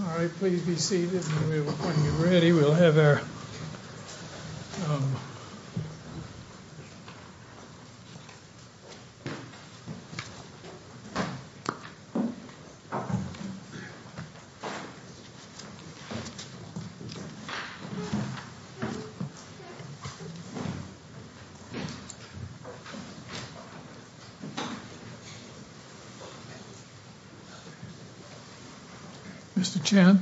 All right, please be seated and when you're ready, we'll have our... Um... Mr. Chan?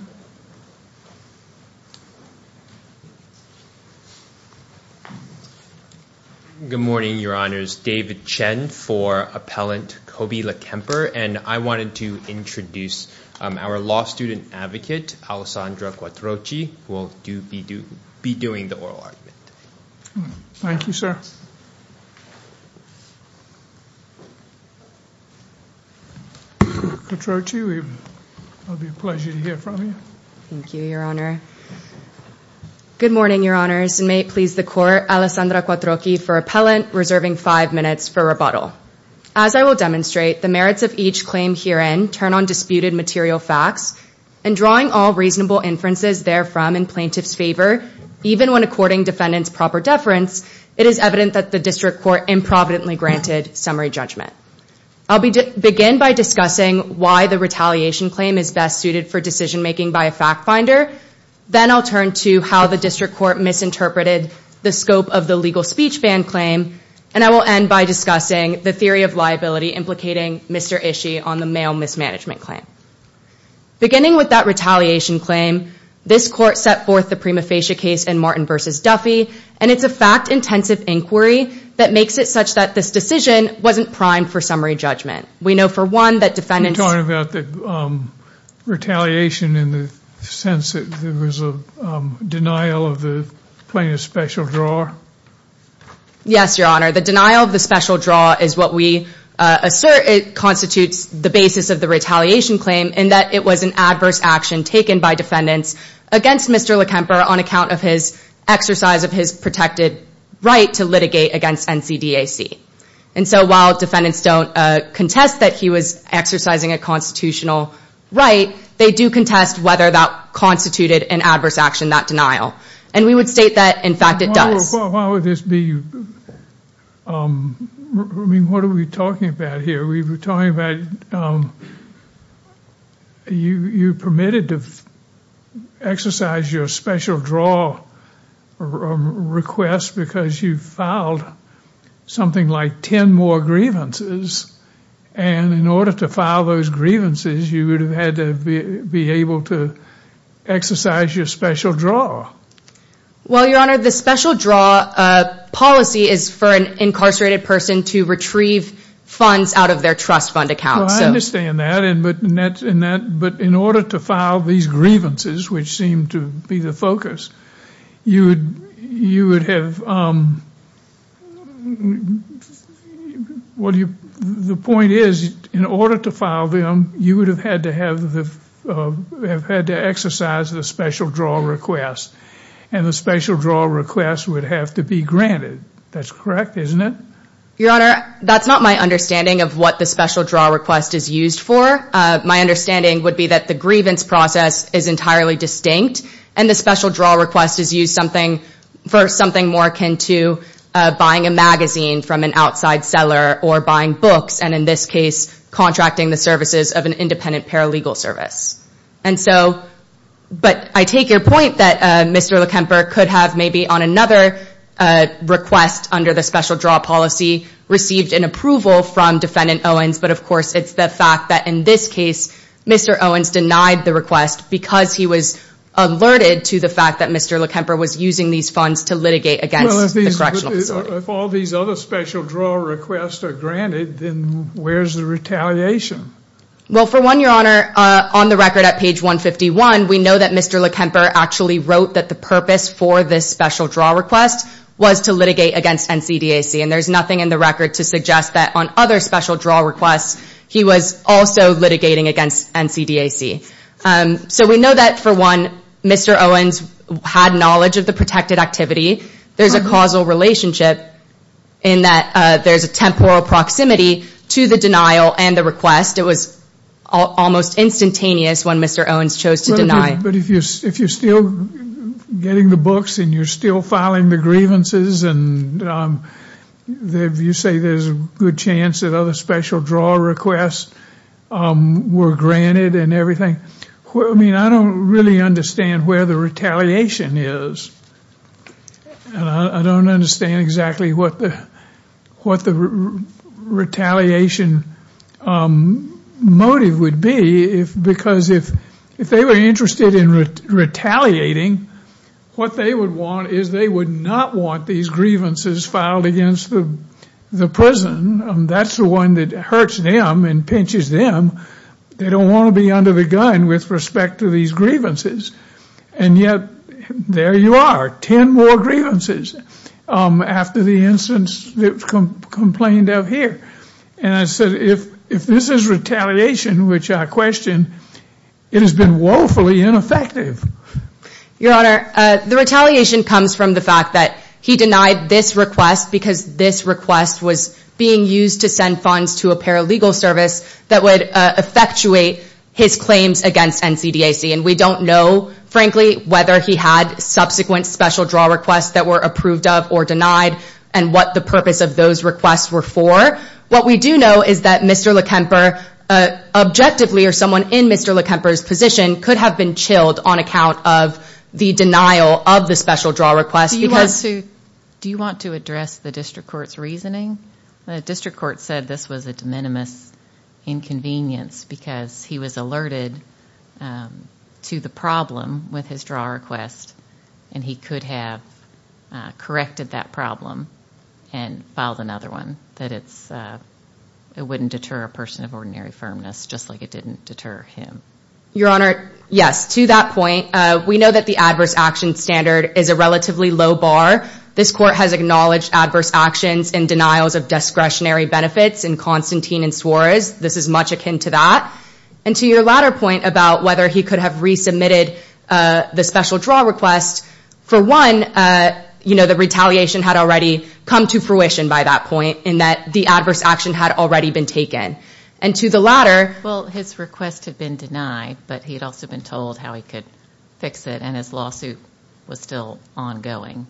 Good morning, Your Honors. David Chen for Appellant Cobey LaKemper, and I wanted to introduce our law student advocate, Alessandra Quattrochi, who will be doing the oral argument. Thank you, sir. Quattrochi, it will be a pleasure to hear from you. Thank you, Your Honor. Good morning, Your Honors, and may it please the Court, Alessandra Quattrochi for Appellant, reserving five minutes for rebuttal. As I will demonstrate, the merits of each claim herein turn on disputed material facts, and drawing all reasonable inferences therefrom in plaintiff's favor, even when according defendant's proper deference, it is evident that the district court improvidently granted summary judgment. I'll begin by discussing why the retaliation claim is best suited for decision-making by a fact-finder, then I'll turn to how the district court misinterpreted the scope of the legal speech ban claim, and I will end by discussing the theory of liability implicating Mr. Ishii on the male mismanagement claim. Beginning with that retaliation claim, this court set forth the prima facie case in Martin v. Duffy, and it's a fact-intensive inquiry that makes it such that this decision wasn't primed for summary judgment. We know, for one, that defendants- You're talking about the retaliation in the sense that there was a denial of the plaintiff's special draw? Yes, Your Honor. The denial of the special draw is what we assert constitutes the basis of the retaliation claim, in that it was an adverse action taken by defendants against Mr. Lekemper on account of his exercise of his protected right to litigate against NCDAC. And so while defendants don't contest that he was exercising a constitutional right, they do contest whether that constituted an adverse action, that denial. And we would state that, in fact, it does. Why would this be- I mean, what are we talking about here? We were talking about you permitted to exercise your special draw request because you filed something like 10 more grievances. And in order to file those grievances, you would have had to be able to exercise your special draw. Well, Your Honor, the special draw policy is for an incarcerated person to retrieve funds out of their trust fund account. Well, I understand that, but in order to file these grievances, which seem to be the focus, you would have- The point is, in order to file them, you would have had to exercise the special draw request, and the special draw request would have to be granted. That's correct, isn't it? Your Honor, that's not my understanding of what the special draw request is used for. My understanding would be that the grievance process is entirely distinct, and the special draw request is used for something more akin to buying a magazine from an outside seller or buying books, and in this case, contracting the services of an independent paralegal service. But I take your point that Mr. Lekemper could have, maybe on another request under the special draw policy, received an approval from Defendant Owens, but of course, it's the fact that, in this case, Mr. Owens denied the request because he was alerted to the fact that Mr. Lekemper was using these funds to litigate against the correctional facility. Well, if all these other special draw requests are granted, then where's the retaliation? Well, for one, Your Honor, on the record at page 151, we know that Mr. Lekemper actually wrote that the purpose for this special draw request was to litigate against NCDAC, and there's nothing in the record to suggest that on other special draw requests, he was also litigating against NCDAC. So we know that, for one, Mr. Owens had knowledge of the protected activity. There's a causal relationship in that there's a temporal proximity to the denial and the request. It was almost instantaneous when Mr. Owens chose to deny. But if you're still getting the books, and you're still filing the grievances, and you say there's a good chance that other special draw requests were granted and everything, I mean, I don't really understand where the retaliation is. I don't understand exactly what the retaliation motive would be, because if they were interested in retaliating, what they would want is they would not want these grievances filed against the prison. That's the one that hurts them and pinches them. They don't want to be under the gun with respect to these grievances. And yet, there you are, ten more grievances after the incidents that were complained of here. And I said, if this is retaliation, which I question, it has been woefully ineffective. Your Honor, the retaliation comes from the fact that he denied this request because this request was being used to send funds to a paralegal service that would effectuate his claims against NCDAC. And we don't know, frankly, whether he had subsequent special draw requests that were approved of or denied and what the purpose of those requests were for. What we do know is that Mr. Lekemper, objectively, or someone in Mr. Lekemper's position, could have been chilled on account of the denial of the special draw request. Do you want to address the district court's reasoning? The district court said this was a de minimis inconvenience because he was alerted to the problem with his draw request and he could have corrected that problem and filed another one. That it wouldn't deter a person of ordinary firmness, just like it didn't deter him. Your Honor, yes, to that point, we know that the adverse action standard is a relatively low bar. This court has acknowledged adverse actions and denials of discretionary benefits in Constantine and Suarez. This is much akin to that. And to your latter point about whether he could have resubmitted the special draw request, for one, you know, the retaliation had already come to fruition by that point in that the adverse action had already been taken. And to the latter... Well, his request had been denied, but he had also been told how he could fix it and his lawsuit was still ongoing.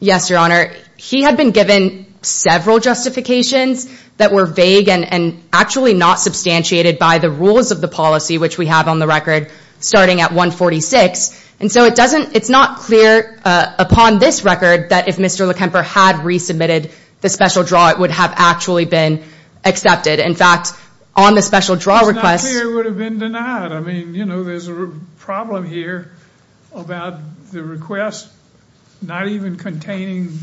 Yes, Your Honor. He had been given several justifications that were vague and actually not substantiated by the rules of the policy, which we have on the record, starting at 146. And so it's not clear upon this record that if Mr. Lekemper had resubmitted the special draw, it would have actually been accepted. In fact, on the special draw request... It's not clear it would have been denied. I mean, you know, there's a problem here about the request not even containing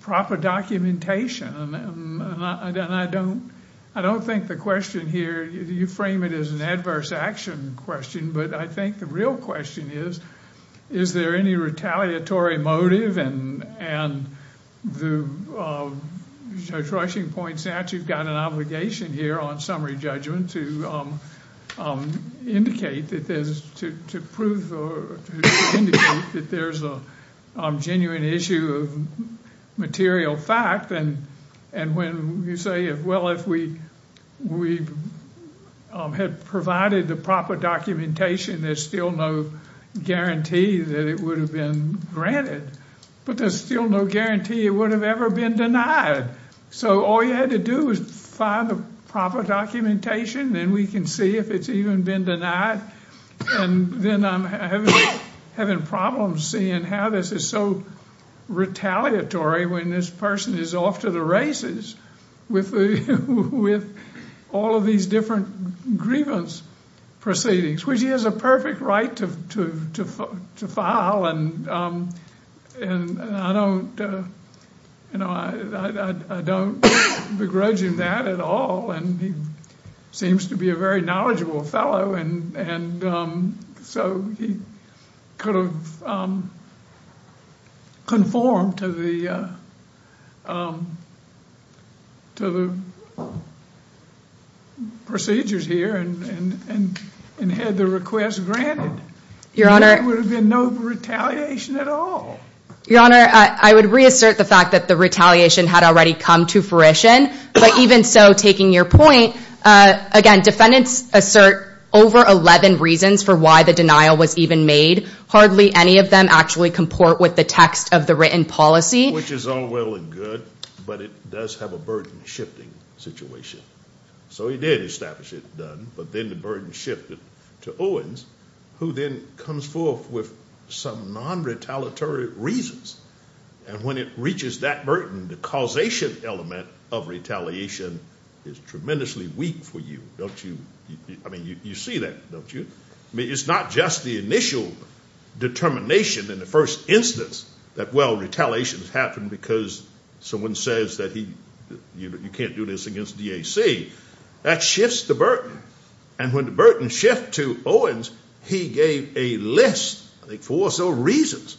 proper documentation. And I don't think the question here, you frame it as an adverse action question, but I think the real question is, is there any retaliatory motive? And Judge Rushing points out you've got an obligation here on summary judgment to indicate that there's a genuine issue of material fact. And when you say, well, if we had provided the proper documentation, there's still no guarantee that it would have been granted. But there's still no guarantee it would have ever been denied. So all you had to do was find the proper documentation, and we can see if it's even been denied. And then I'm having problems seeing how this is so retaliatory when this person is off to the races with all of these different grievance proceedings, which he has a perfect right to file, and I don't begrudge him that at all. And he seems to be a very knowledgeable fellow, and so he could have conformed to the procedures here and had the request granted. Your Honor. There would have been no retaliation at all. Your Honor, I would reassert the fact that the retaliation had already come to fruition, but even so, taking your point, again, defendants assert over 11 reasons for why the denial was even made. Hardly any of them actually comport with the text of the written policy. Which is all well and good, but it does have a burden-shifting situation. So he did establish it, but then the burden shifted to Owens, who then comes forth with some non-retaliatory reasons. And when it reaches that burden, the causation element of retaliation is tremendously weak for you, don't you? I mean, you see that, don't you? I mean, it's not just the initial determination in the first instance that, well, retaliation has happened because someone says that you can't do this against DAC. That shifts the burden. And when the burden shifts to Owens, he gave a list, I think, four or so reasons.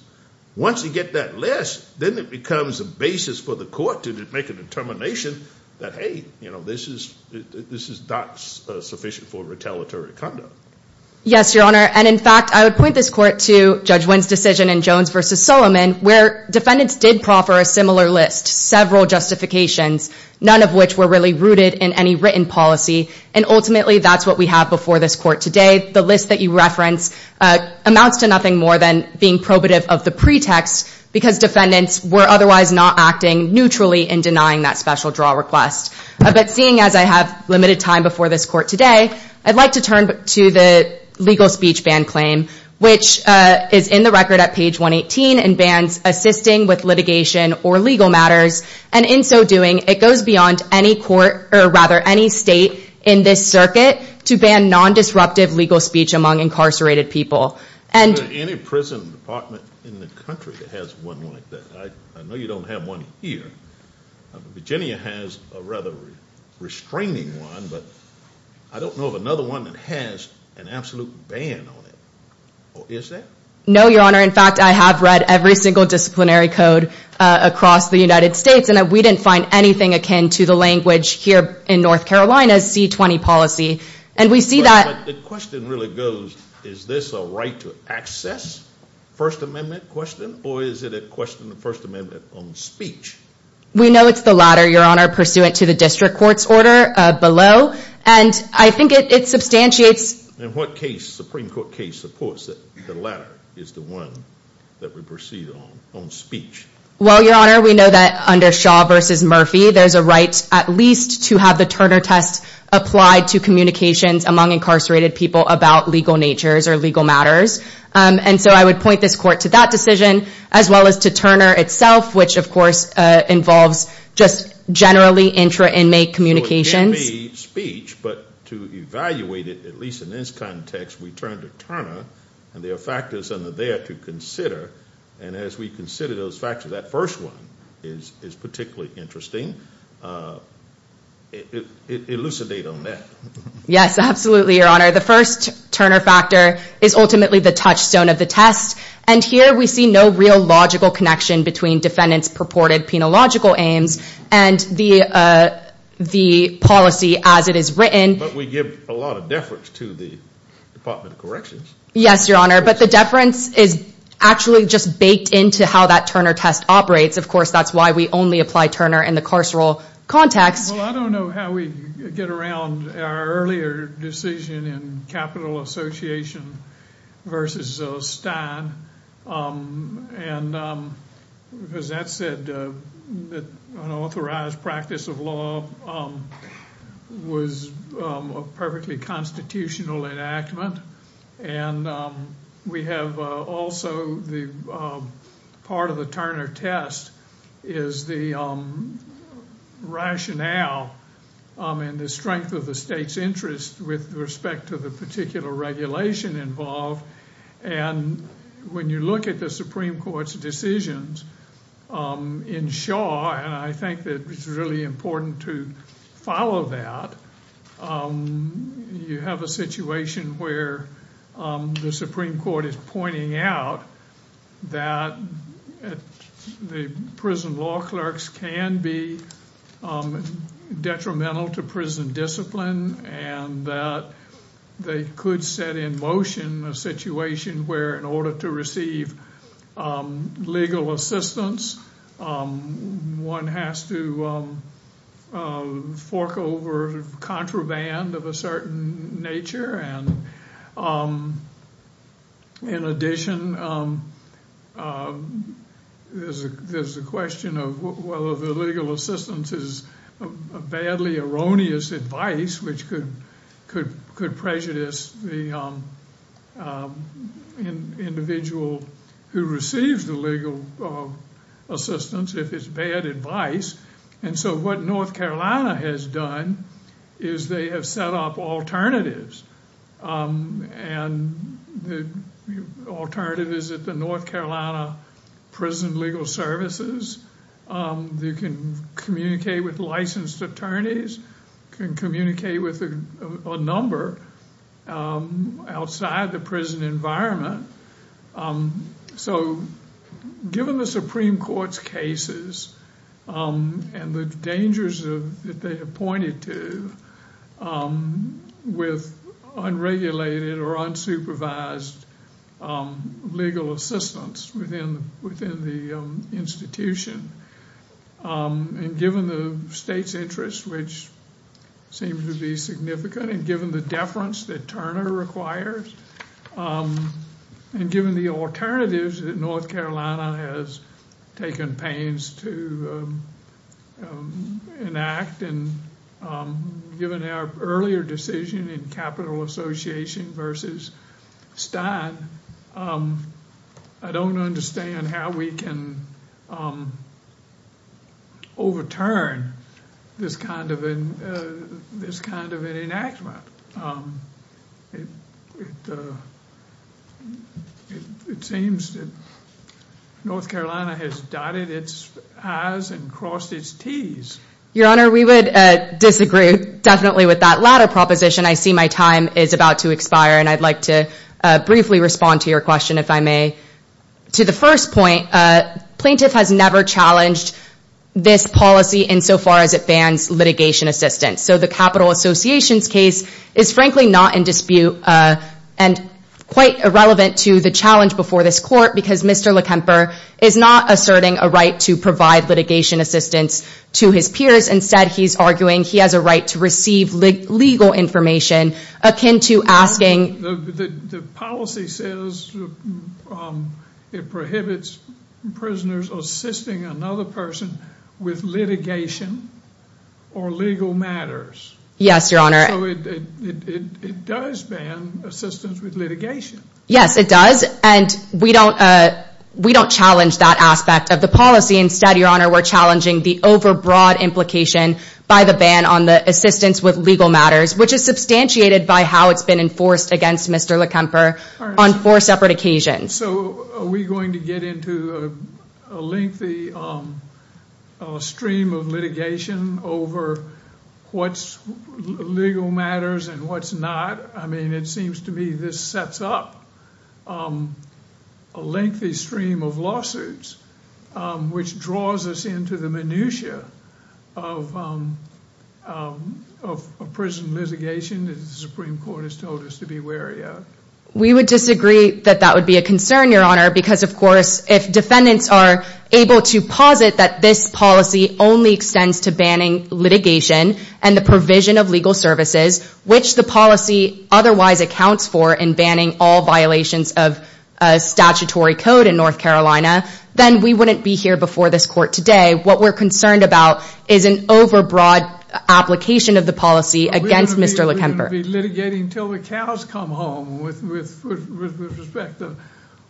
Once you get that list, then it becomes a basis for the court to make a determination that, hey, this is not sufficient for retaliatory conduct. Yes, Your Honor. And in fact, I would point this court to Judge Wynn's decision in Jones v. Solomon, where defendants did proffer a similar list, several justifications, none of which were really rooted in any written policy. And ultimately, that's what we have before this court today. The list that you reference amounts to nothing more than being probative of the pretext because defendants were otherwise not acting neutrally in denying that special draw request. But seeing as I have limited time before this court today, I'd like to turn to the legal speech ban claim, which is in the record at page 118 and bans assisting with litigation or legal matters. And in so doing, it goes beyond any state in this circuit to ban nondisruptive legal speech among incarcerated people. Is there any prison department in the country that has one like that? I know you don't have one here. Virginia has a rather restraining one, but I don't know of another one that has an absolute ban on it. Or is there? No, Your Honor. In fact, I have read every single disciplinary code across the United States, and we didn't find anything akin to the language here in North Carolina's C-20 policy. And we see that. But the question really goes, is this a right to access First Amendment question, or is it a question of First Amendment on speech? We know it's the latter, Your Honor, pursuant to the district court's order below. And I think it substantiates. And what case, Supreme Court case, supports that the latter is the one that we proceed on, on speech? Well, Your Honor, we know that under Shaw v. Murphy, there's a right at least to have the Turner test applied to communications among incarcerated people about legal natures or legal matters. And so I would point this court to that decision, as well as to Turner itself, which, of course, involves just generally intra-inmate communications. But to evaluate it, at least in this context, we turn to Turner. And there are factors under there to consider. And as we consider those factors, that first one is particularly interesting. Elucidate on that. Yes, absolutely, Your Honor. The first Turner factor is ultimately the touchstone of the test. And here we see no real logical connection between defendants' purported penological aims and the policy as it is written. But we give a lot of deference to the Department of Corrections. Yes, Your Honor. But the deference is actually just baked into how that Turner test operates. Of course, that's why we only apply Turner in the carceral context. Well, I don't know how we get around our earlier decision in Capital Association v. Stein. And as that said, an authorized practice of law was a perfectly constitutional enactment. And we have also the part of the Turner test is the rationale and the strength of the state's interest with respect to the particular regulation involved. And when you look at the Supreme Court's decisions in Shaw, and I think that it's really important to follow that, you have a situation where the Supreme Court is pointing out that the prison law clerks can be detrimental to prison discipline and that they could set in motion a situation where in order to receive legal assistance, one has to fork over contraband of a certain nature. And in addition, there's a question of whether the legal assistance is a badly erroneous advice, which could prejudice the individual who receives the legal assistance if it's bad advice. And so what North Carolina has done is they have set up alternatives. And the alternative is that the North Carolina prison legal services, they can communicate with licensed attorneys, can communicate with a number outside the prison environment. So given the Supreme Court's cases and the dangers that they have pointed to with unregulated or unsupervised legal assistance within the institution, and given the state's interest, which seems to be significant, and given the deference that Turner requires, and given the alternatives that North Carolina has taken pains to enact, and given our earlier decision in Capital Association versus Stein, I don't understand how we can overturn this kind of an enactment. It seems that North Carolina has dotted its I's and crossed its T's. Your Honor, we would disagree definitely with that latter proposition. I see my time is about to expire, and I'd like to briefly respond to your question, if I may. To the first point, plaintiff has never challenged this policy insofar as it bans litigation assistance. So the Capital Association's case is frankly not in dispute and quite irrelevant to the challenge before this court because Mr. Lekemper is not asserting a right to provide litigation assistance to his peers. Instead, he's arguing he has a right to receive legal information akin to asking— The policy says it prohibits prisoners assisting another person with litigation or legal matters. Yes, Your Honor. So it does ban assistance with litigation. Yes, it does, and we don't challenge that aspect of the policy. Instead, Your Honor, we're challenging the overbroad implication by the ban on the assistance with legal matters, which is substantiated by how it's been enforced against Mr. Lekemper on four separate occasions. So are we going to get into a lengthy stream of litigation over what's legal matters and what's not? I mean, it seems to me this sets up a lengthy stream of lawsuits, which draws us into the minutia of prison litigation that the Supreme Court has told us to be wary of. We would disagree that that would be a concern, Your Honor, because, of course, if defendants are able to posit that this policy only extends to banning litigation and the provision of legal services, which the policy otherwise accounts for in banning all violations of statutory code in North Carolina, then we wouldn't be here before this Court today. What we're concerned about is an overbroad application of the policy against Mr. Lekemper. We're going to be litigating until the cows come home with respect to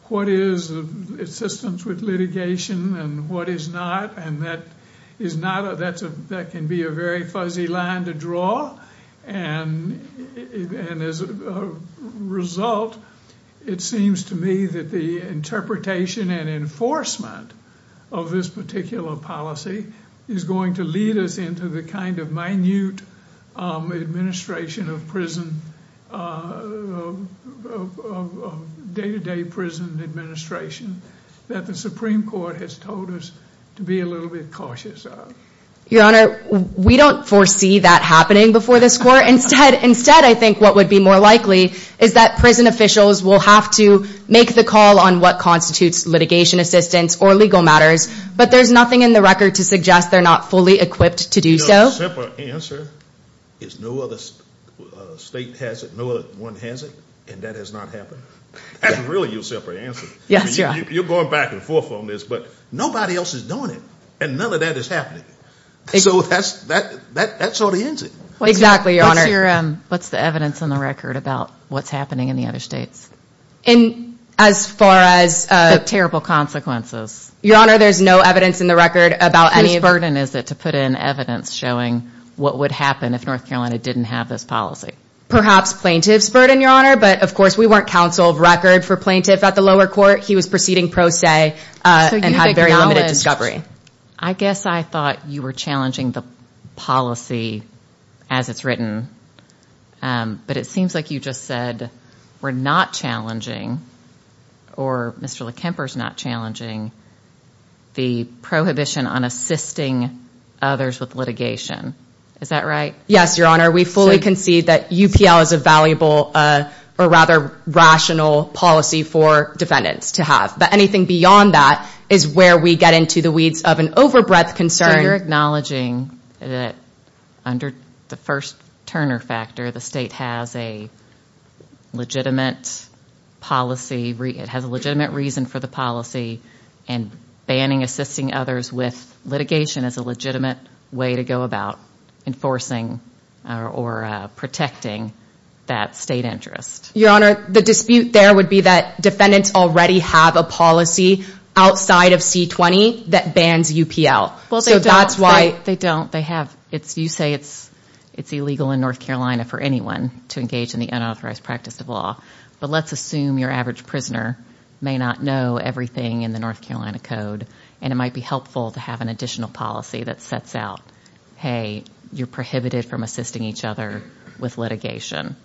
what is assistance with litigation and what is not. And that can be a very fuzzy line to draw. And as a result, it seems to me that the interpretation and enforcement of this particular policy is going to lead us into the kind of minute administration of day-to-day prison administration that the Supreme Court has told us to be a little bit cautious of. Your Honor, we don't foresee that happening before this Court. Instead, I think what would be more likely is that prison officials will have to make the call on what constitutes litigation assistance or legal matters, but there's nothing in the record to suggest they're not fully equipped to do so. You know, the simple answer is no other state has it, no other one has it, and that has not happened. That's really your simple answer. Yes, Your Honor. You're going back and forth on this, but nobody else is doing it, and none of that is happening. So that sort of ends it. Exactly, Your Honor. What's the evidence in the record about what's happening in the other states? As far as terrible consequences. Your Honor, there's no evidence in the record about any of it. Whose burden is it to put in evidence showing what would happen if North Carolina didn't have this policy? Perhaps plaintiff's burden, Your Honor, but, of course, we weren't counsel of record for plaintiff at the lower court. He was proceeding pro se and had very limited discovery. I guess I thought you were challenging the policy as it's written, but it seems like you just said we're not challenging, or Mr. Lekemper's not challenging, the prohibition on assisting others with litigation. Is that right? Yes, Your Honor. We fully concede that UPL is a valuable or rather rational policy for defendants to have, but anything beyond that is where we get into the weeds of an overbreadth concern. So you're acknowledging that under the first Turner factor, the state has a legitimate policy, it has a legitimate reason for the policy, and banning assisting others with litigation is a legitimate way to go about enforcing or protecting that state interest. Your Honor, the dispute there would be that defendants already have a policy outside of C20 that bans UPL. Well, they don't. They don't. They have. You say it's illegal in North Carolina for anyone to engage in the unauthorized practice of law, but let's assume your average prisoner may not know everything in the North Carolina Code, and it might be helpful to have an additional policy that sets out, hey, you're prohibited from assisting each other with litigation,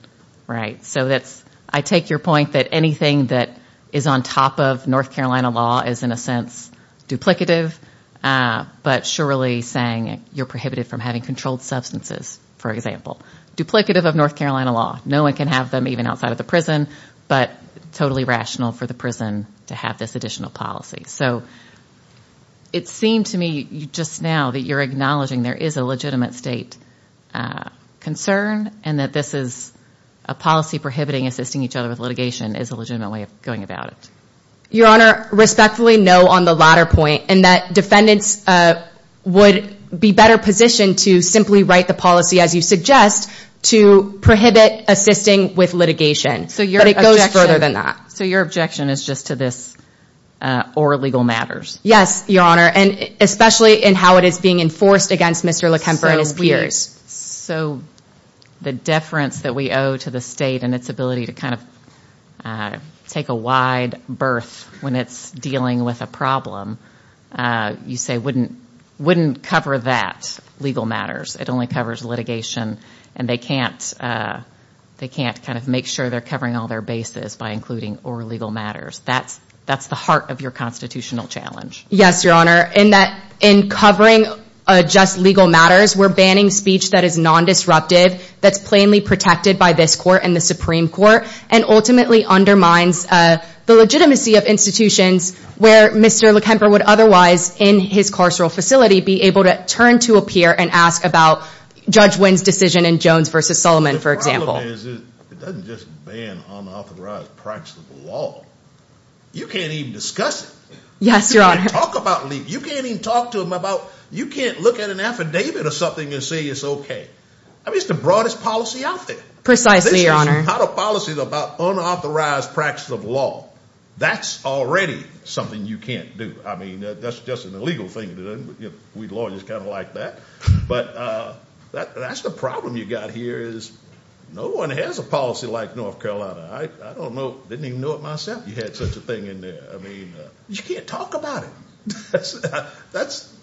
right? So I take your point that anything that is on top of North Carolina law is in a sense duplicative, but surely saying you're prohibited from having controlled substances, for example. Duplicative of North Carolina law. No one can have them even outside of the prison, but totally rational for the prison to have this additional policy. So it seemed to me just now that you're acknowledging there is a legitimate state concern and that this is a policy prohibiting assisting each other with litigation is a legitimate way of going about it. Your Honor, respectfully, no on the latter point, and that defendants would be better positioned to simply write the policy, as you suggest, to prohibit assisting with litigation. But it goes further than that. So your objection is just to this or legal matters? Yes, Your Honor, and especially in how it is being enforced against Mr. Lekemper and his peers. So the deference that we owe to the state and its ability to kind of take a wide berth when it's dealing with a problem, you say wouldn't cover that legal matters. It only covers litigation, and they can't kind of make sure they're covering all their bases by including or legal matters. That's the heart of your constitutional challenge. Yes, Your Honor, in covering just legal matters, we're banning speech that is non-disruptive, that's plainly protected by this court and the Supreme Court, and ultimately undermines the legitimacy of institutions where Mr. Lekemper would otherwise, in his carceral facility, be able to turn to a peer and ask about Judge Wynn's decision in Jones v. Solomon, for example. The problem is it doesn't just ban unauthorized practice of the law. You can't even discuss it. Yes, Your Honor. You can't talk about it. You can't even talk to them about it. You can't look at an affidavit or something and say it's okay. I mean, it's the broadest policy out there. Precisely, Your Honor. This is not a policy about unauthorized practice of law. That's already something you can't do. I mean, that's just an illegal thing to do. We lawyers kind of like that. But that's the problem you've got here is no one has a policy like North Carolina. I don't know. I didn't even know it myself you had such a thing in there. I mean, you can't talk about it.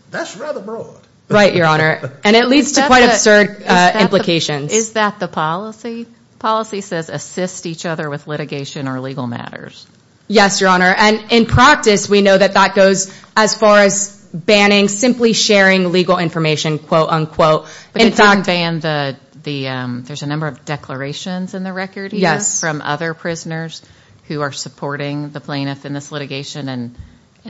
That's rather broad. Right, Your Honor. And it leads to quite absurd implications. Is that the policy? The policy says assist each other with litigation or legal matters. Yes, Your Honor. And in practice, we know that that goes as far as banning simply sharing legal information, quote, unquote. There's a number of declarations in the record from other prisoners who are supporting the plaintiff in this litigation. And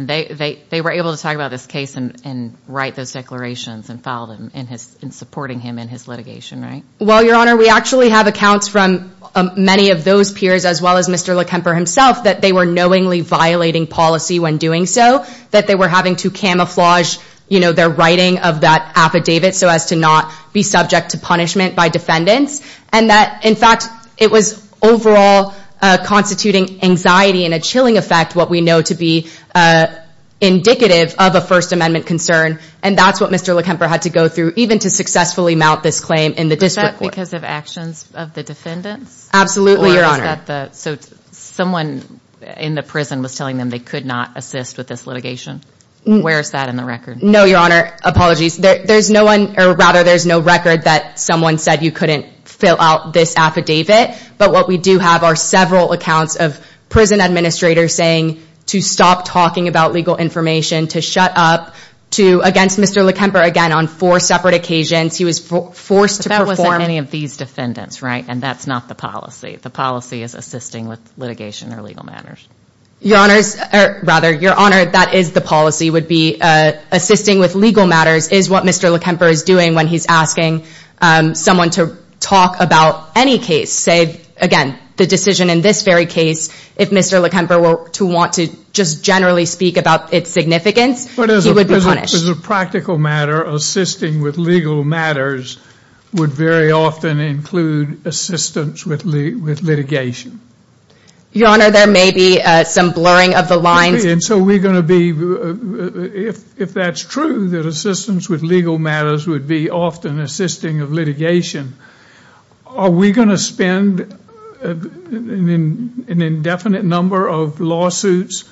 they were able to talk about this case and write those declarations and file them in supporting him in his litigation, right? Well, Your Honor, we actually have accounts from many of those peers, as well as Mr. Lekemper himself, that they were knowingly violating policy when doing so, that they were having to camouflage their writing of that affidavit so as to not be subject to punishment by defendants. And that, in fact, it was overall constituting anxiety and a chilling effect, what we know to be indicative of a First Amendment concern. And that's what Mr. Lekemper had to go through even to successfully mount this claim in the district court. Was that because of actions of the defendants? Absolutely, Your Honor. So someone in the prison was telling them they could not assist with this litigation? Where is that in the record? No, Your Honor, apologies. There's no one, or rather, there's no record that someone said you couldn't fill out this affidavit. But what we do have are several accounts of prison administrators saying to stop talking about legal information, to shut up, to, against Mr. Lekemper, again, on four separate occasions, he was forced to perform. But that wasn't any of these defendants, right? And that's not the policy. The policy is assisting with litigation or legal matters. Your Honor's, or rather, Your Honor, that is the policy would be assisting with legal matters is what Mr. Lekemper is doing when he's asking someone to talk about any case. Say, again, the decision in this very case, if Mr. Lekemper were to want to just generally speak about its significance, he would be punished. As a practical matter, assisting with legal matters would very often include assistance with litigation. Your Honor, there may be some blurring of the lines. And so we're going to be, if that's true, that assistance with legal matters would be often assisting of litigation, Are we going to spend an indefinite number of lawsuits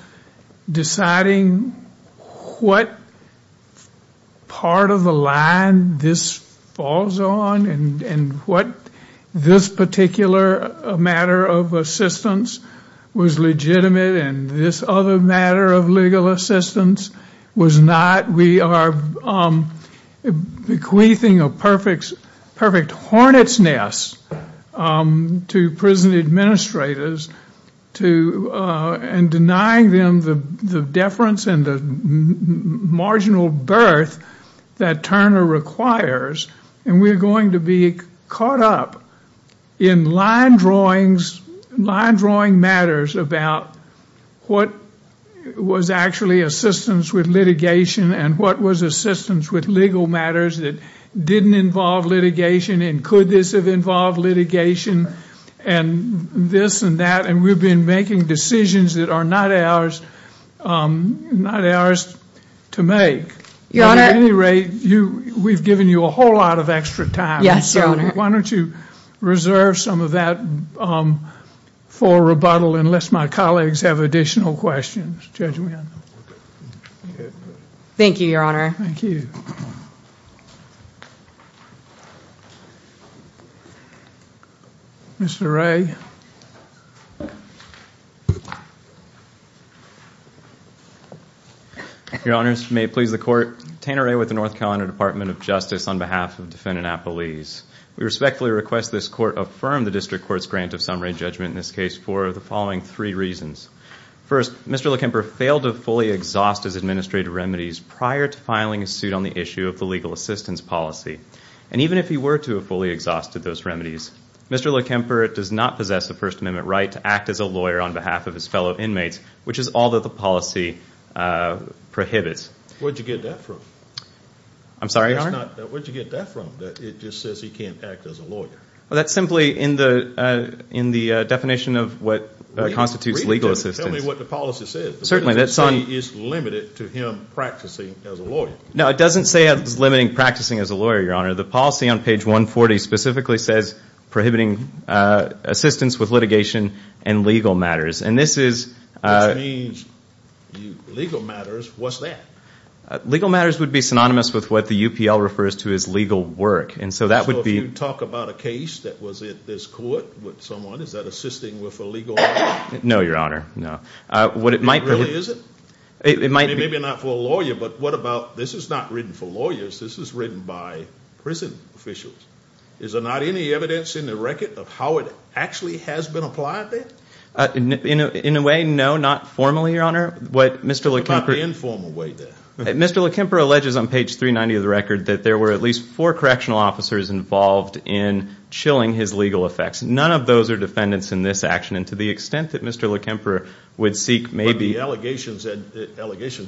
deciding what part of the line this falls on and what this particular matter of assistance was legitimate and this other matter of legal assistance was not? We are bequeathing a perfect hornet's nest to prison administrators and denying them the deference and the marginal birth that Turner requires. And we're going to be caught up in line drawing matters about what was actually assistance with litigation and what was assistance with legal matters that didn't involve litigation and could this have involved litigation and this and that, and we've been making decisions that are not ours to make. At any rate, we've given you a whole lot of extra time. Yes, Your Honor. Why don't you reserve some of that for rebuttal unless my colleagues have additional questions. Thank you, Your Honor. Thank you. Mr. Wray. Your Honors, may it please the Court. Tanner Wray with the North Carolina Department of Justice on behalf of defendant Appelese. We respectfully request this Court affirm the District Court's grant of summary judgment in this case for the following three reasons. First, Mr. Lekemper failed to fully exhaust his administrative remedies prior to filing a suit on the issue of the legal assistance policy. And even if he were to have fully exhausted those remedies, Mr. Lekemper does not possess the First Amendment right to act as a lawyer on behalf of his fellow inmates, which is all that the policy prohibits. Where'd you get that from? I'm sorry, Your Honor? Where'd you get that from, that it just says he can't act as a lawyer? Well, that's simply in the definition of what constitutes legal assistance. Tell me what the policy says. Certainly, that's on. The policy is limited to him practicing as a lawyer. No, it doesn't say it's limiting practicing as a lawyer, Your Honor. The policy on page 140 specifically says prohibiting assistance with litigation and legal matters. Which means legal matters, what's that? Legal matters would be synonymous with what the UPL refers to as legal work. So if you talk about a case that was at this court with someone, is that assisting with a legal work? No, Your Honor, no. It really isn't? Maybe not for a lawyer, but what about, this is not written for lawyers, this is written by prison officials. Is there not any evidence in the record of how it actually has been applied there? In a way, no, not formally, Your Honor. What about the informal way, then? Mr. Lekemper alleges on page 390 of the record that there were at least four correctional officers involved in chilling his legal effects. None of those are defendants in this action, and to the extent that Mr. Lekemper would seek maybe the allegations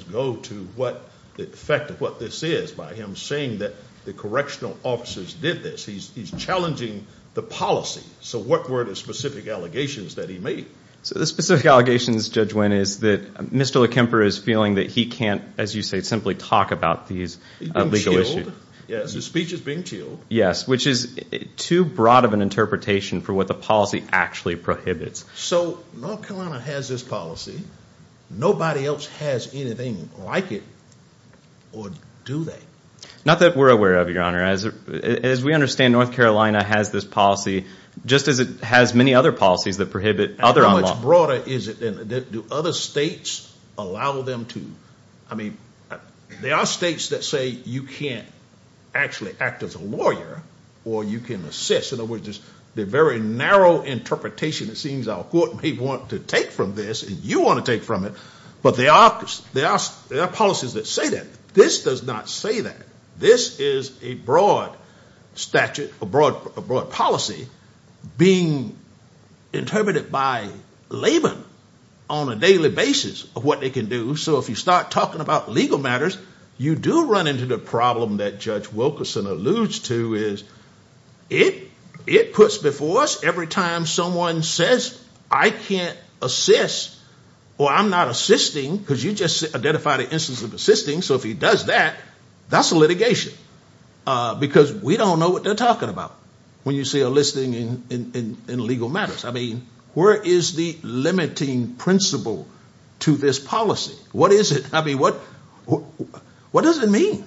go to what the effect of what this is by him saying that the correctional officers did this. He's challenging the policy. So what were the specific allegations that he made? So the specific allegations, Judge Winn, is that Mr. Lekemper is feeling that he can't, as you say, simply talk about these legal issues. Yes, his speech is being chilled. Yes, which is too broad of an interpretation for what the policy actually prohibits. So North Carolina has this policy. Nobody else has anything like it, or do they? Not that we're aware of, Your Honor. As we understand, North Carolina has this policy, just as it has many other policies that prohibit other law. How much broader is it, then? Do other states allow them to? I mean, there are states that say you can't actually act as a lawyer, or you can assist. In other words, there's a very narrow interpretation it seems our court may want to take from this, and you want to take from it. But there are policies that say that. This does not say that. This is a broad statute, a broad policy being interpreted by labor on a daily basis of what they can do. So if you start talking about legal matters, you do run into the problem that Judge Wilkerson alludes to. It puts before us every time someone says, I can't assist, or I'm not assisting, because you just identified an instance of assisting. So if he does that, that's litigation. Because we don't know what they're talking about when you see a listing in legal matters. I mean, where is the limiting principle to this policy? What is it? I mean, what does it mean?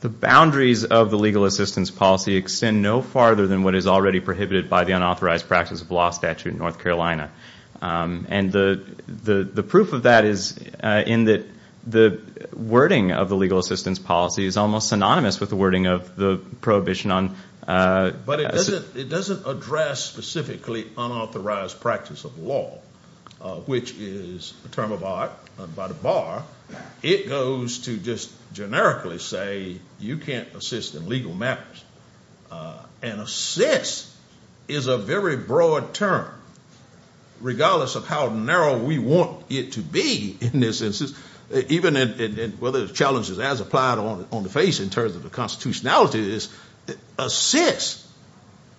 The boundaries of the legal assistance policy extend no farther than what is already prohibited by the unauthorized practice of law statute in North Carolina. And the proof of that is in that the wording of the legal assistance policy is almost synonymous with the wording of the prohibition on ‑‑ But it doesn't address specifically unauthorized practice of law, which is a term of art by the bar. It goes to just generically say you can't assist in legal matters. And assist is a very broad term, regardless of how narrow we want it to be in this instance, whether the challenge is as applied on the face in terms of the constitutionality, assist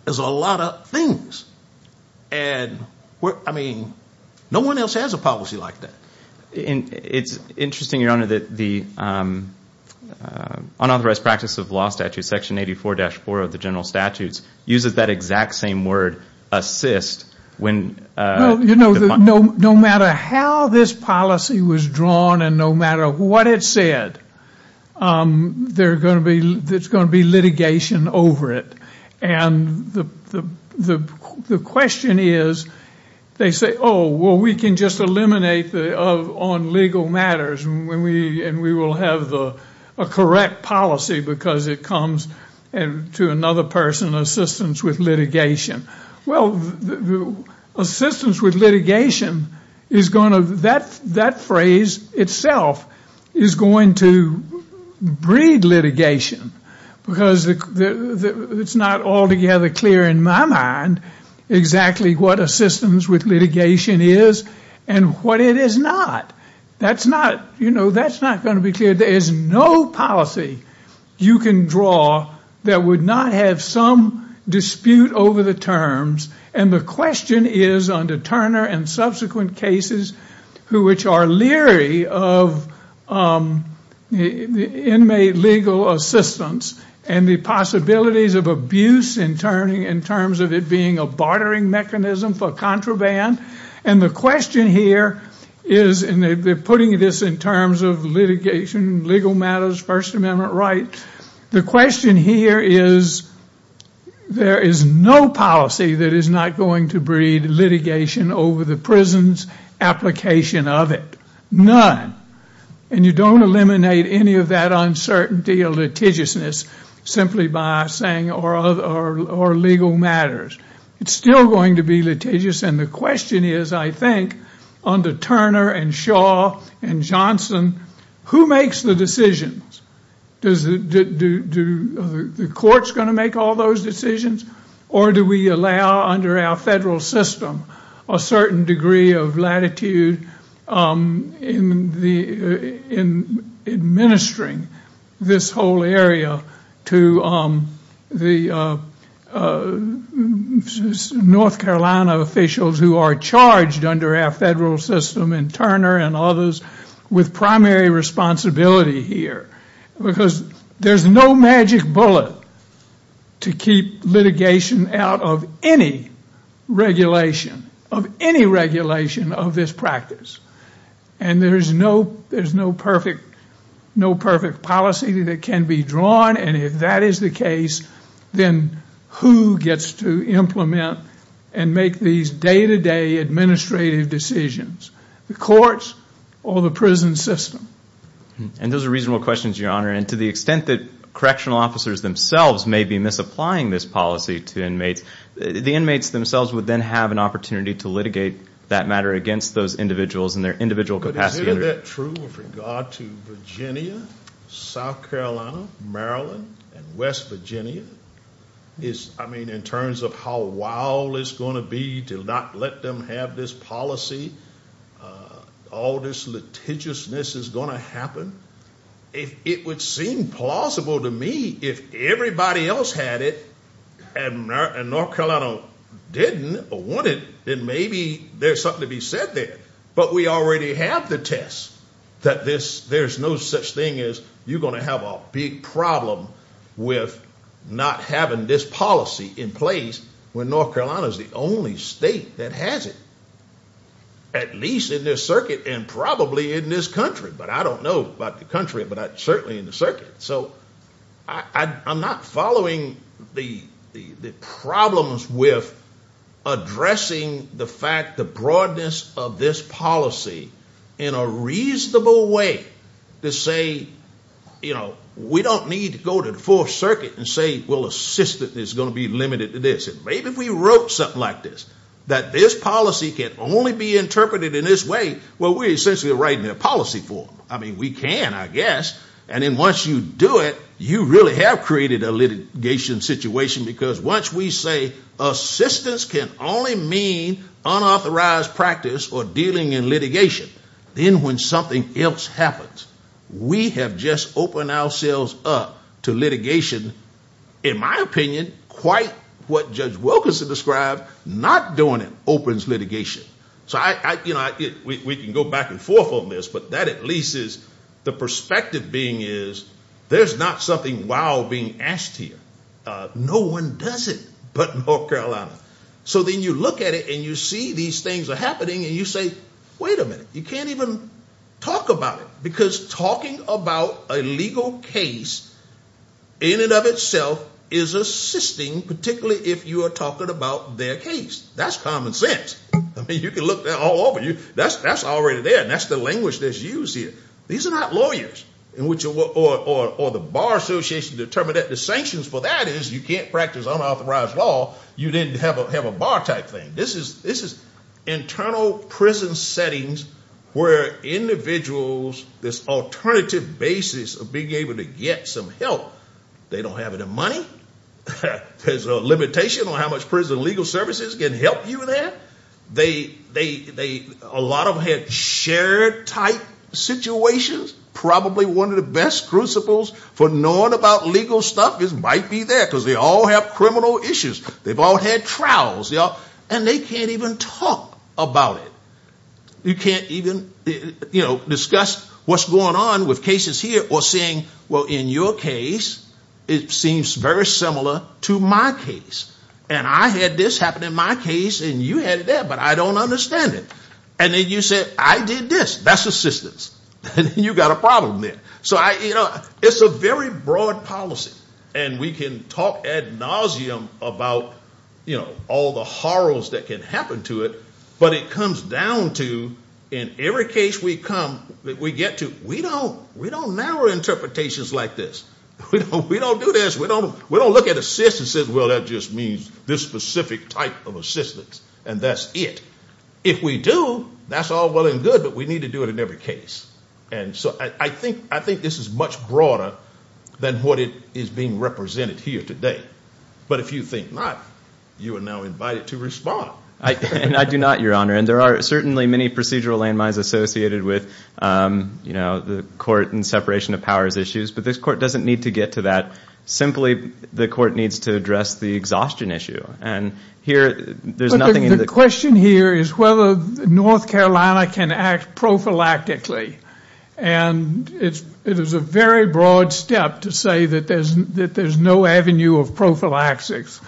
is a lot of things. And I mean, no one else has a policy like that. It's interesting, Your Honor, that the unauthorized practice of law statute, section 84‑4 of the general statutes, uses that exact same word, assist. You know, no matter how this policy was drawn and no matter what it said, there's going to be litigation over it. And the question is, they say, oh, well, we can just eliminate on legal matters and we will have a correct policy because it comes to another person's assistance with litigation. Well, assistance with litigation is going to ‑‑ that phrase itself is going to breed litigation. Because it's not altogether clear in my mind exactly what assistance with litigation is and what it is not. You know, that's not going to be clear. There is no policy you can draw that would not have some dispute over the terms. And the question is under Turner and subsequent cases which are leery of inmate legal assistance and the possibilities of abuse in terms of it being a bartering mechanism for contraband. And the question here is, and they're putting this in terms of litigation, legal matters, First Amendment rights. The question here is, there is no policy that is not going to breed litigation over the prison's application of it. None. And you don't eliminate any of that uncertainty or litigiousness simply by saying, or legal matters. It's still going to be litigious and the question is, I think, under Turner and Shaw and Johnson, who makes the decisions? Do the courts going to make all those decisions? Or do we allow under our federal system a certain degree of latitude in administering this whole area to the North Carolina officials who are charged under our federal system and Turner and others with primary responsibility here? Because there's no magic bullet to keep litigation out of any regulation, of any regulation of this practice. And there's no perfect policy that can be drawn. And if that is the case, then who gets to implement and make these day-to-day administrative decisions? The courts or the prison system? And those are reasonable questions, Your Honor. And to the extent that correctional officers themselves may be misapplying this policy to inmates, the inmates themselves would then have an opportunity to litigate that matter against those individuals in their individual capacity. But is any of that true with regard to Virginia, South Carolina, Maryland, and West Virginia? I mean, in terms of how wild it's going to be to not let them have this policy, all this litigiousness is going to happen? If it would seem plausible to me if everybody else had it and North Carolina didn't or wanted, then maybe there's something to be said there. But we already have the test that there's no such thing as you're going to have a big problem with not having this policy in place when North Carolina is the only state that has it, at least in this circuit and probably in this country. But I don't know about the country, but certainly in the circuit. So I'm not following the problems with addressing the fact, the broadness of this policy in a reasonable way to say, you know, we don't need to go to the Fourth Circuit and say, well, assistance is going to be limited to this. Maybe if we wrote something like this, that this policy can only be interpreted in this way, well, we're essentially writing a policy for them. I mean, we can, I guess. And then once you do it, you really have created a litigation situation because once we say assistance can only mean unauthorized practice or dealing in litigation, then when something else happens, we have just opened ourselves up to litigation. In my opinion, quite what Judge Wilkinson described, not doing it opens litigation. So I, you know, we can go back and forth on this, but that at least is the perspective being is there's not something wild being asked here. No one does it but North Carolina. So then you look at it and you see these things are happening and you say, wait a minute, you can't even talk about it. Because talking about a legal case in and of itself is assisting, particularly if you are talking about their case. That's common sense. I mean, you can look that all over. That's already there. And that's the language that's used here. These are not lawyers or the bar association determined that the sanctions for that is you can't practice unauthorized law. You didn't have a bar type thing. This is internal prison settings where individuals, this alternative basis of being able to get some help, they don't have any money. There's a limitation on how much prison legal services can help you there. A lot of them have shared type situations. Probably one of the best principles for knowing about legal stuff might be there because they all have criminal issues. They've all had trials. And they can't even talk about it. You can't even discuss what's going on with cases here or saying, well, in your case, it seems very similar to my case. And I had this happen in my case and you had it there, but I don't understand it. And then you say, I did this. That's assistance. And you've got a problem there. So it's a very broad policy. And we can talk ad nauseum about all the horrors that can happen to it, but it comes down to in every case we come, we get to, we don't narrow interpretations like this. We don't do this. We don't look at assistance and say, well, that just means this specific type of assistance, and that's it. If we do, that's all well and good, but we need to do it in every case. And so I think this is much broader than what is being represented here today. But if you think not, you are now invited to respond. And I do not, Your Honor. And there are certainly many procedural landmines associated with the court and separation of powers issues, but this court doesn't need to get to that. Simply, the court needs to address the exhaustion issue. The question here is whether North Carolina can act prophylactically. And it is a very broad step to say that there's no avenue of prophylactics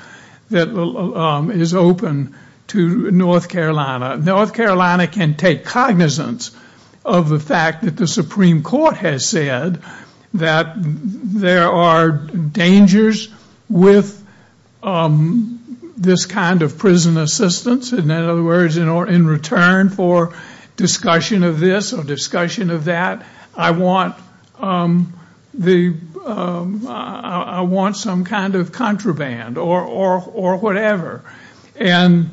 that is open to North Carolina. North Carolina can take cognizance of the fact that the Supreme Court has said that there are dangers with this kind of prison assistance. In other words, in return for discussion of this or discussion of that, I want some kind of contraband or whatever. And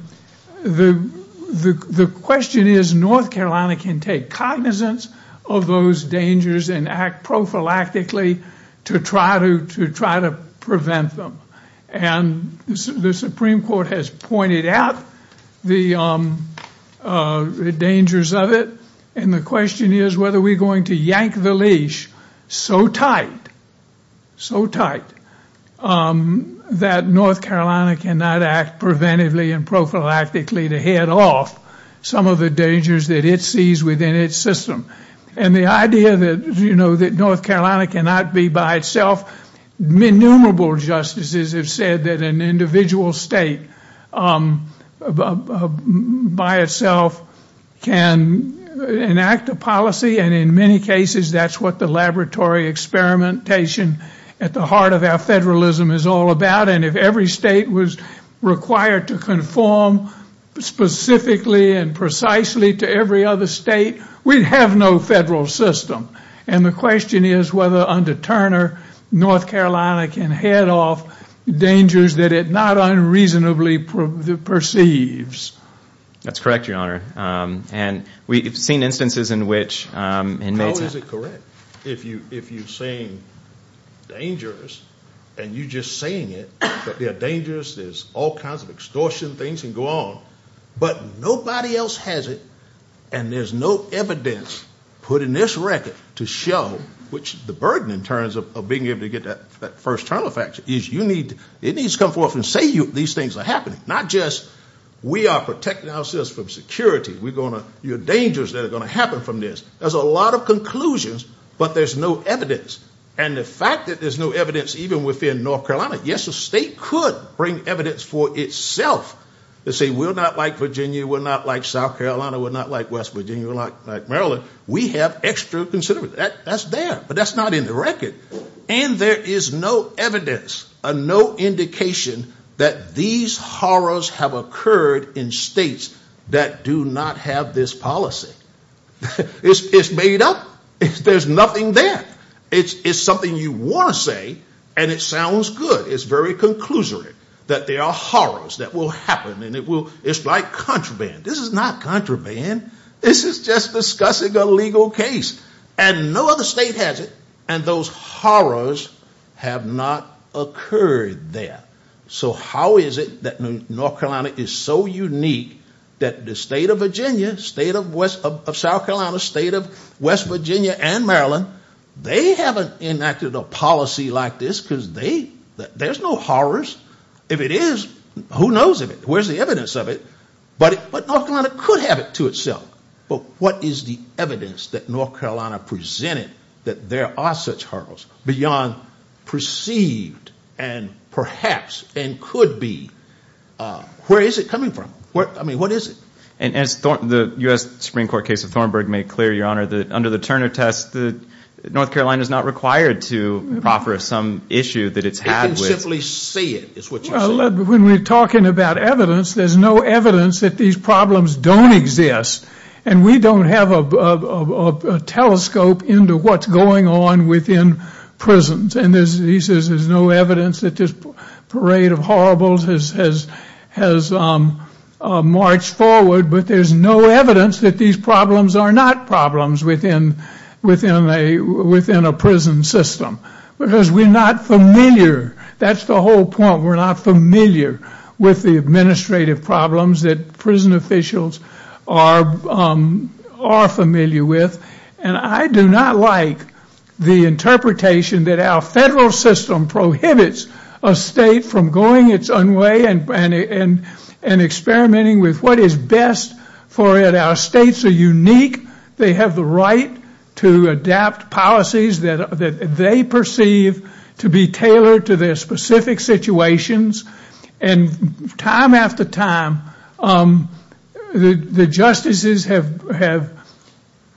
the question is, North Carolina can take cognizance of those dangers and act prophylactically to try to prevent them. And the Supreme Court has pointed out the dangers of it. And the question is whether we're going to yank the leash so tight, so tight, that North Carolina cannot act preventively and prophylactically to head off some of the dangers that it sees within its system. And the idea that North Carolina cannot be by itself, innumerable justices have said that an individual state by itself can enact a policy. And in many cases, that's what the laboratory experimentation at the heart of our federalism is all about. And if every state was required to conform specifically and precisely to every other state, we'd have no federal system. And the question is whether under Turner, North Carolina can head off dangers that it not unreasonably perceives. That's correct, Your Honor. And we've seen instances in which inmates have. Is it correct if you're saying dangerous, and you're just saying it, but they're dangerous, there's all kinds of extortion things can go on, but nobody else has it, and there's no evidence put in this record to show, which the burden in terms of being able to get that first term of action, is you need, it needs to come forth and say these things are happening. Not just we are protecting ourselves from security, we're going to, you're dangerous that are going to happen from this. There's a lot of conclusions, but there's no evidence. And the fact that there's no evidence even within North Carolina, yes, the state could bring evidence for itself to say we're not like Virginia, we're not like South Carolina, we're not like West Virginia, we're not like Maryland, we have extra consideration. That's there, but that's not in the record. And there is no evidence, no indication that these horrors have occurred in states that do not have this policy. It's made up. There's nothing there. It's something you want to say, and it sounds good. It's very conclusory that there are horrors that will happen, and it's like contraband. This is not contraband. This is just discussing a legal case, and no other state has it, and those horrors have not occurred there. So how is it that North Carolina is so unique that the state of Virginia, state of South Carolina, state of West Virginia and Maryland, they haven't enacted a policy like this because they, there's no horrors. If it is, who knows of it? Where's the evidence of it? But North Carolina could have it to itself, but what is the evidence that North Carolina presented that there are such horrors beyond perceived and perhaps and could be? Where is it coming from? I mean, what is it? And as the U.S. Supreme Court case of Thornburg made clear, Your Honor, that under the Turner test, North Carolina is not required to offer some issue that it's had with. It can simply say it, is what you're saying. When we're talking about evidence, there's no evidence that these problems don't exist, and we don't have a telescope into what's going on within prisons, and there's no evidence that this parade of horribles has marched forward, but there's no evidence that these problems are not problems within a prison system, because we're not familiar. That's the whole point. We're not familiar with the administrative problems that prison officials are familiar with, and I do not like the interpretation that our federal system prohibits a state from going its own way and experimenting with what is best for it. Our states are unique. They have the right to adapt policies that they perceive to be tailored to their specific situations, and time after time, the justices have,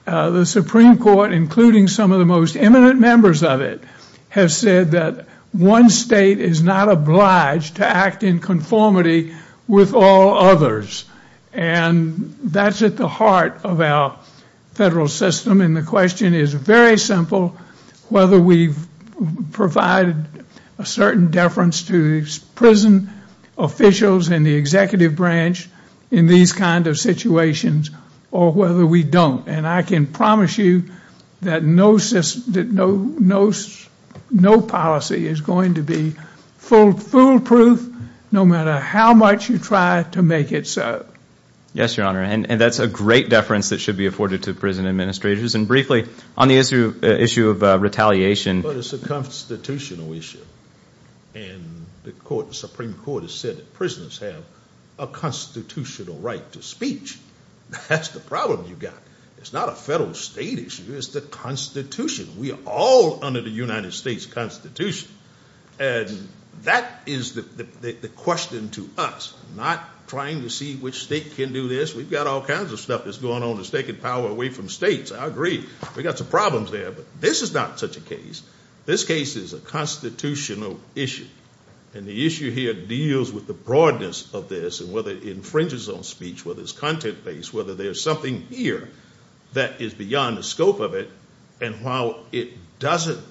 the Supreme Court, including some of the most eminent members of it, have said that one state is not obliged to act in conformity with all others, and that's at the heart of our federal system, and the question is very simple whether we've provided a certain deference to prison officials and the executive branch in these kinds of situations or whether we don't, and I can promise you that no policy is going to be foolproof no matter how much you try to make it so. Yes, Your Honor, and that's a great deference that should be afforded to prison administrators, and briefly, on the issue of retaliation. But it's a constitutional issue, and the Supreme Court has said that prisoners have a constitutional right to speech. That's the problem you've got. It's not a federal state issue. It's the Constitution. We are all under the United States Constitution, and that is the question to us, not trying to see which state can do this. We've got all kinds of stuff that's going on that's taking power away from states. I agree. We've got some problems there, but this is not such a case. This case is a constitutional issue, and the issue here deals with the broadness of this and whether it infringes on speech, whether it's content-based, whether there's something here that is beyond the scope of it, and while it doesn't,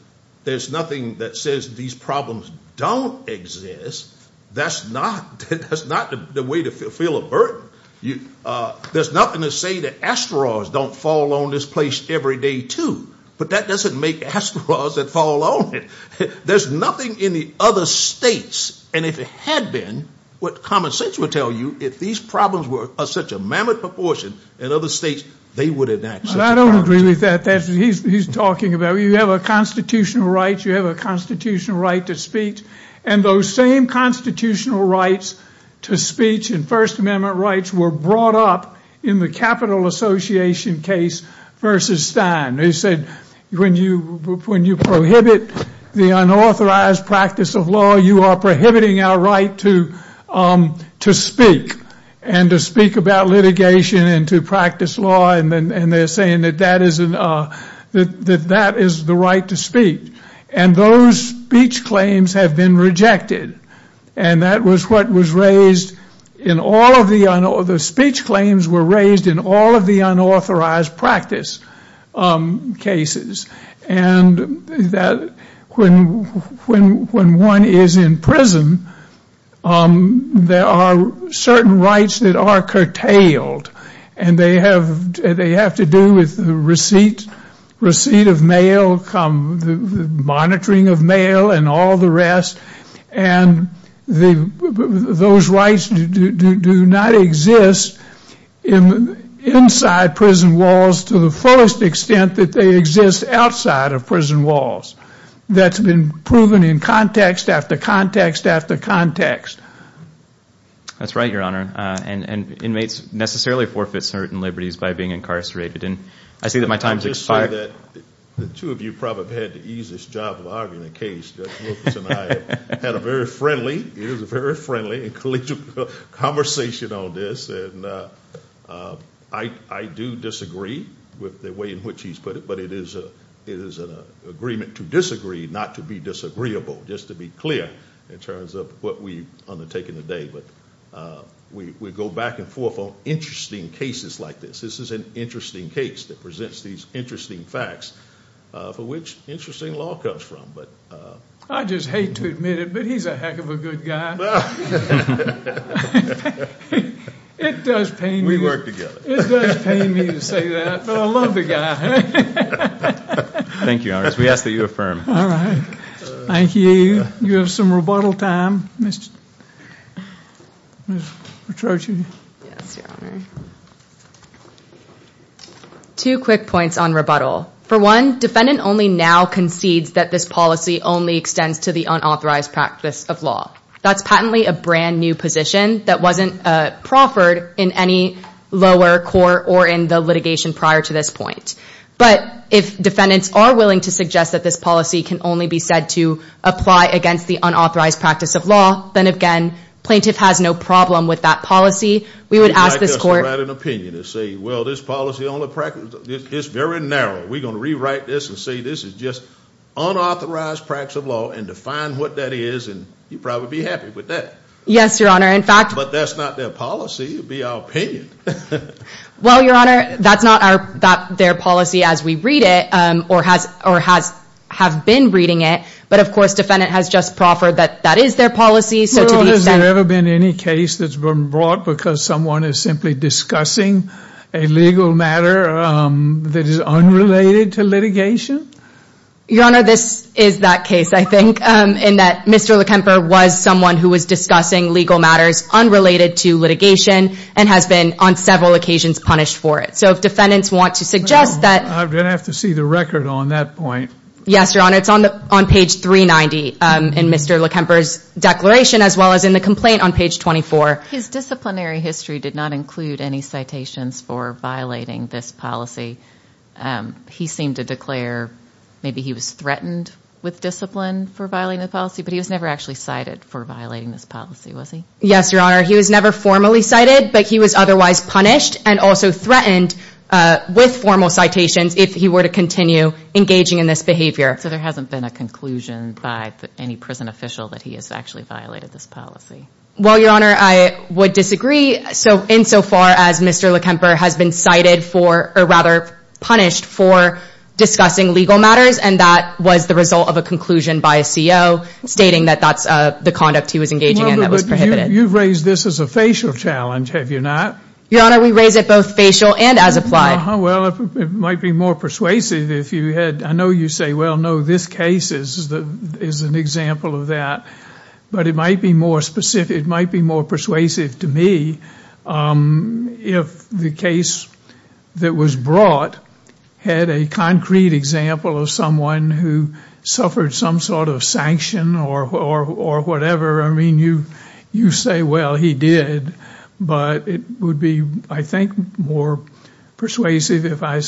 there's nothing that says these problems don't exist. That's not the way to fulfill a burden. There's nothing to say that asteroids don't fall on this place every day, too, but that doesn't make asteroids that fall on it. There's nothing in the other states, and if it had been, what common sense would tell you, if these problems were of such a mammoth proportion in other states, they would enact. I don't agree with that. He's talking about you have a constitutional right, you have a constitutional right to speak, and those same constitutional rights to speech and First Amendment rights were brought up in the Capital Association case versus Stein. They said when you prohibit the unauthorized practice of law, you are prohibiting our right to speak and to speak about litigation and to practice law, and they're saying that that is the right to speak, and those speech claims have been rejected, and that was what was raised in all of the, the speech claims were raised in all of the unauthorized practice cases, and that when one is in prison, there are certain rights that are curtailed, and they have to do with receipt of mail, monitoring of mail, and all the rest, and those rights do not exist inside prison walls to the fullest extent that they exist outside of prison walls. That's been proven in context after context after context. That's right, Your Honor, and inmates necessarily forfeit certain liberties by being incarcerated, and I see that my time has expired. The two of you probably had the easiest job of arguing the case. Judge Wilkins and I had a very friendly, it was a very friendly and collegial conversation on this, and I do disagree with the way in which he's put it, but it is an agreement to disagree not to be disagreeable, just to be clear in terms of what we've undertaken today, but we go back and forth on interesting cases like this. This is an interesting case that presents these interesting facts for which interesting law comes from. I just hate to admit it, but he's a heck of a good guy. It does pain me. We work together. It does pain me to say that, but I love the guy. Thank you, Your Honor. We ask that you affirm. All right. Thank you. You have some rebuttal time, Ms. Petrocci. Yes, Your Honor. Two quick points on rebuttal. For one, defendant only now concedes that this policy only extends to the unauthorized practice of law. That's patently a brand-new position that wasn't proffered in any lower court or in the litigation prior to this point, but if defendants are willing to suggest that this policy can only be said to apply against the unauthorized practice of law, then, again, plaintiff has no problem with that policy. We would ask this court to write an opinion and say, well, this policy is very narrow. We're going to rewrite this and say this is just unauthorized practice of law and define what that is, and you'd probably be happy with that. Yes, Your Honor. But that's not their policy. It would be our opinion. Well, Your Honor, that's not their policy as we read it or have been reading it, but, of course, defendant has just proffered that that is their policy. Well, has there ever been any case that's been brought because someone is simply discussing a legal matter that is unrelated to litigation? Your Honor, this is that case, I think, in that Mr. Lekemper was someone who was discussing legal matters unrelated to litigation and has been on several occasions punished for it. So if defendants want to suggest that – I'm going to have to see the record on that point. Yes, Your Honor. It's on page 390 in Mr. Lekemper's declaration as well as in the complaint on page 24. His disciplinary history did not include any citations for violating this policy. He seemed to declare maybe he was threatened with discipline for violating the policy, but he was never actually cited for violating this policy, was he? Yes, Your Honor. He was never formally cited, but he was otherwise punished and also threatened with formal citations if he were to continue engaging in this behavior. So there hasn't been a conclusion by any prison official that he has actually violated this policy? Well, Your Honor, I would disagree. So insofar as Mr. Lekemper has been cited for – or rather punished for discussing legal matters, and that was the result of a conclusion by a CO stating that that's the conduct he was engaging in that was prohibited. You've raised this as a facial challenge, have you not? Your Honor, we raise it both facial and as applied. Well, it might be more persuasive if you had – I know you say, well, no, this case is an example of that, but it might be more specific – it might be more persuasive to me if the case that was brought had a concrete example of someone who suffered some sort of sanction or whatever. I mean, you say, well, he did, but it would be, I think, more persuasive if I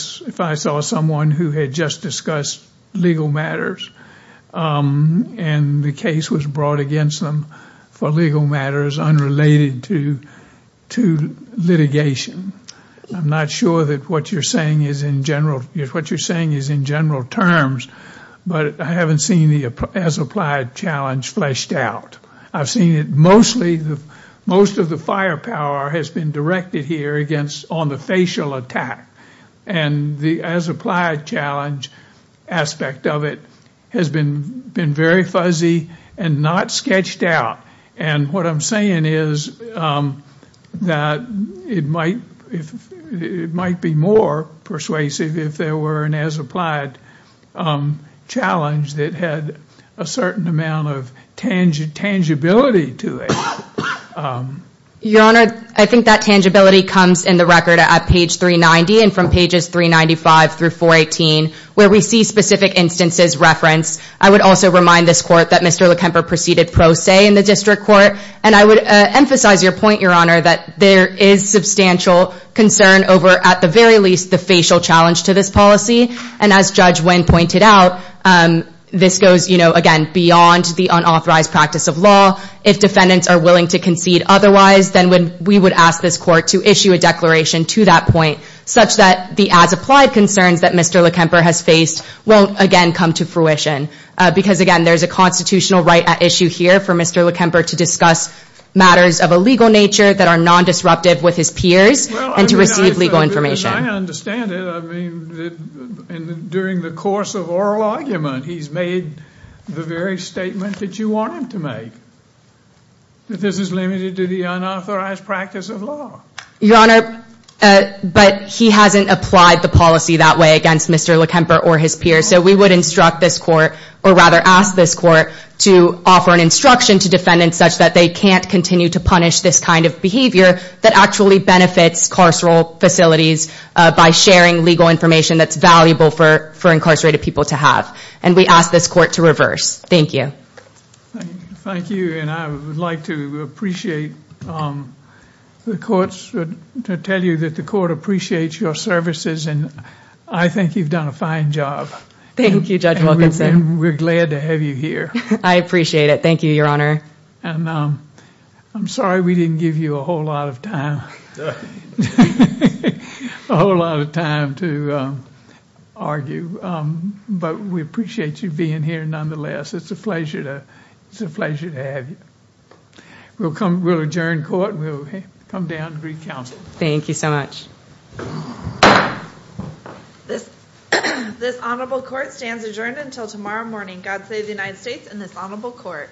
saw someone who had just discussed legal matters and the case was brought against them for legal matters unrelated to litigation. I'm not sure that what you're saying is in general – what you're saying is in general terms, but I haven't seen the as applied challenge fleshed out. I've seen it mostly – most of the firepower has been directed here on the facial attack, and the as applied challenge aspect of it has been very fuzzy and not sketched out. And what I'm saying is that it might be more persuasive if there were an as applied challenge that had a certain amount of tangibility to it. Your Honor, I think that tangibility comes in the record at page 390 and from pages 395 through 418, where we see specific instances referenced. I would also remind this Court that Mr. Lekemper proceeded pro se in the District Court, and I would emphasize your point, Your Honor, that there is substantial concern over, at the very least, the facial challenge to this policy. And as Judge Wynn pointed out, this goes, again, beyond the unauthorized practice of law. If defendants are willing to concede otherwise, then we would ask this Court to issue a declaration to that point such that the as applied concerns that Mr. Lekemper has faced won't, again, come to fruition. Because, again, there's a constitutional right at issue here for Mr. Lekemper to discuss matters of a legal nature that are non-disruptive with his peers and to receive legal information. Well, I understand it. I mean, during the course of oral argument, he's made the very statement that you want him to make, that this is limited to the unauthorized practice of law. Your Honor, but he hasn't applied the policy that way against Mr. Lekemper or his peers. So we would instruct this Court, or rather ask this Court, to offer an instruction to defendants such that they can't continue to punish this kind of behavior that actually benefits carceral facilities by sharing legal information that's valuable for incarcerated people to have. And we ask this Court to reverse. Thank you. Thank you, and I would like to tell you that the Court appreciates your services, and I think you've done a fine job. Thank you, Judge Wilkinson. And we're glad to have you here. I appreciate it. Thank you, Your Honor. And I'm sorry we didn't give you a whole lot of time to argue, but we appreciate you being here nonetheless. It's a pleasure to have you. We'll adjourn Court, and we'll come down and recount. Thank you so much. This Honorable Court stands adjourned until tomorrow morning. God save the United States and this Honorable Court.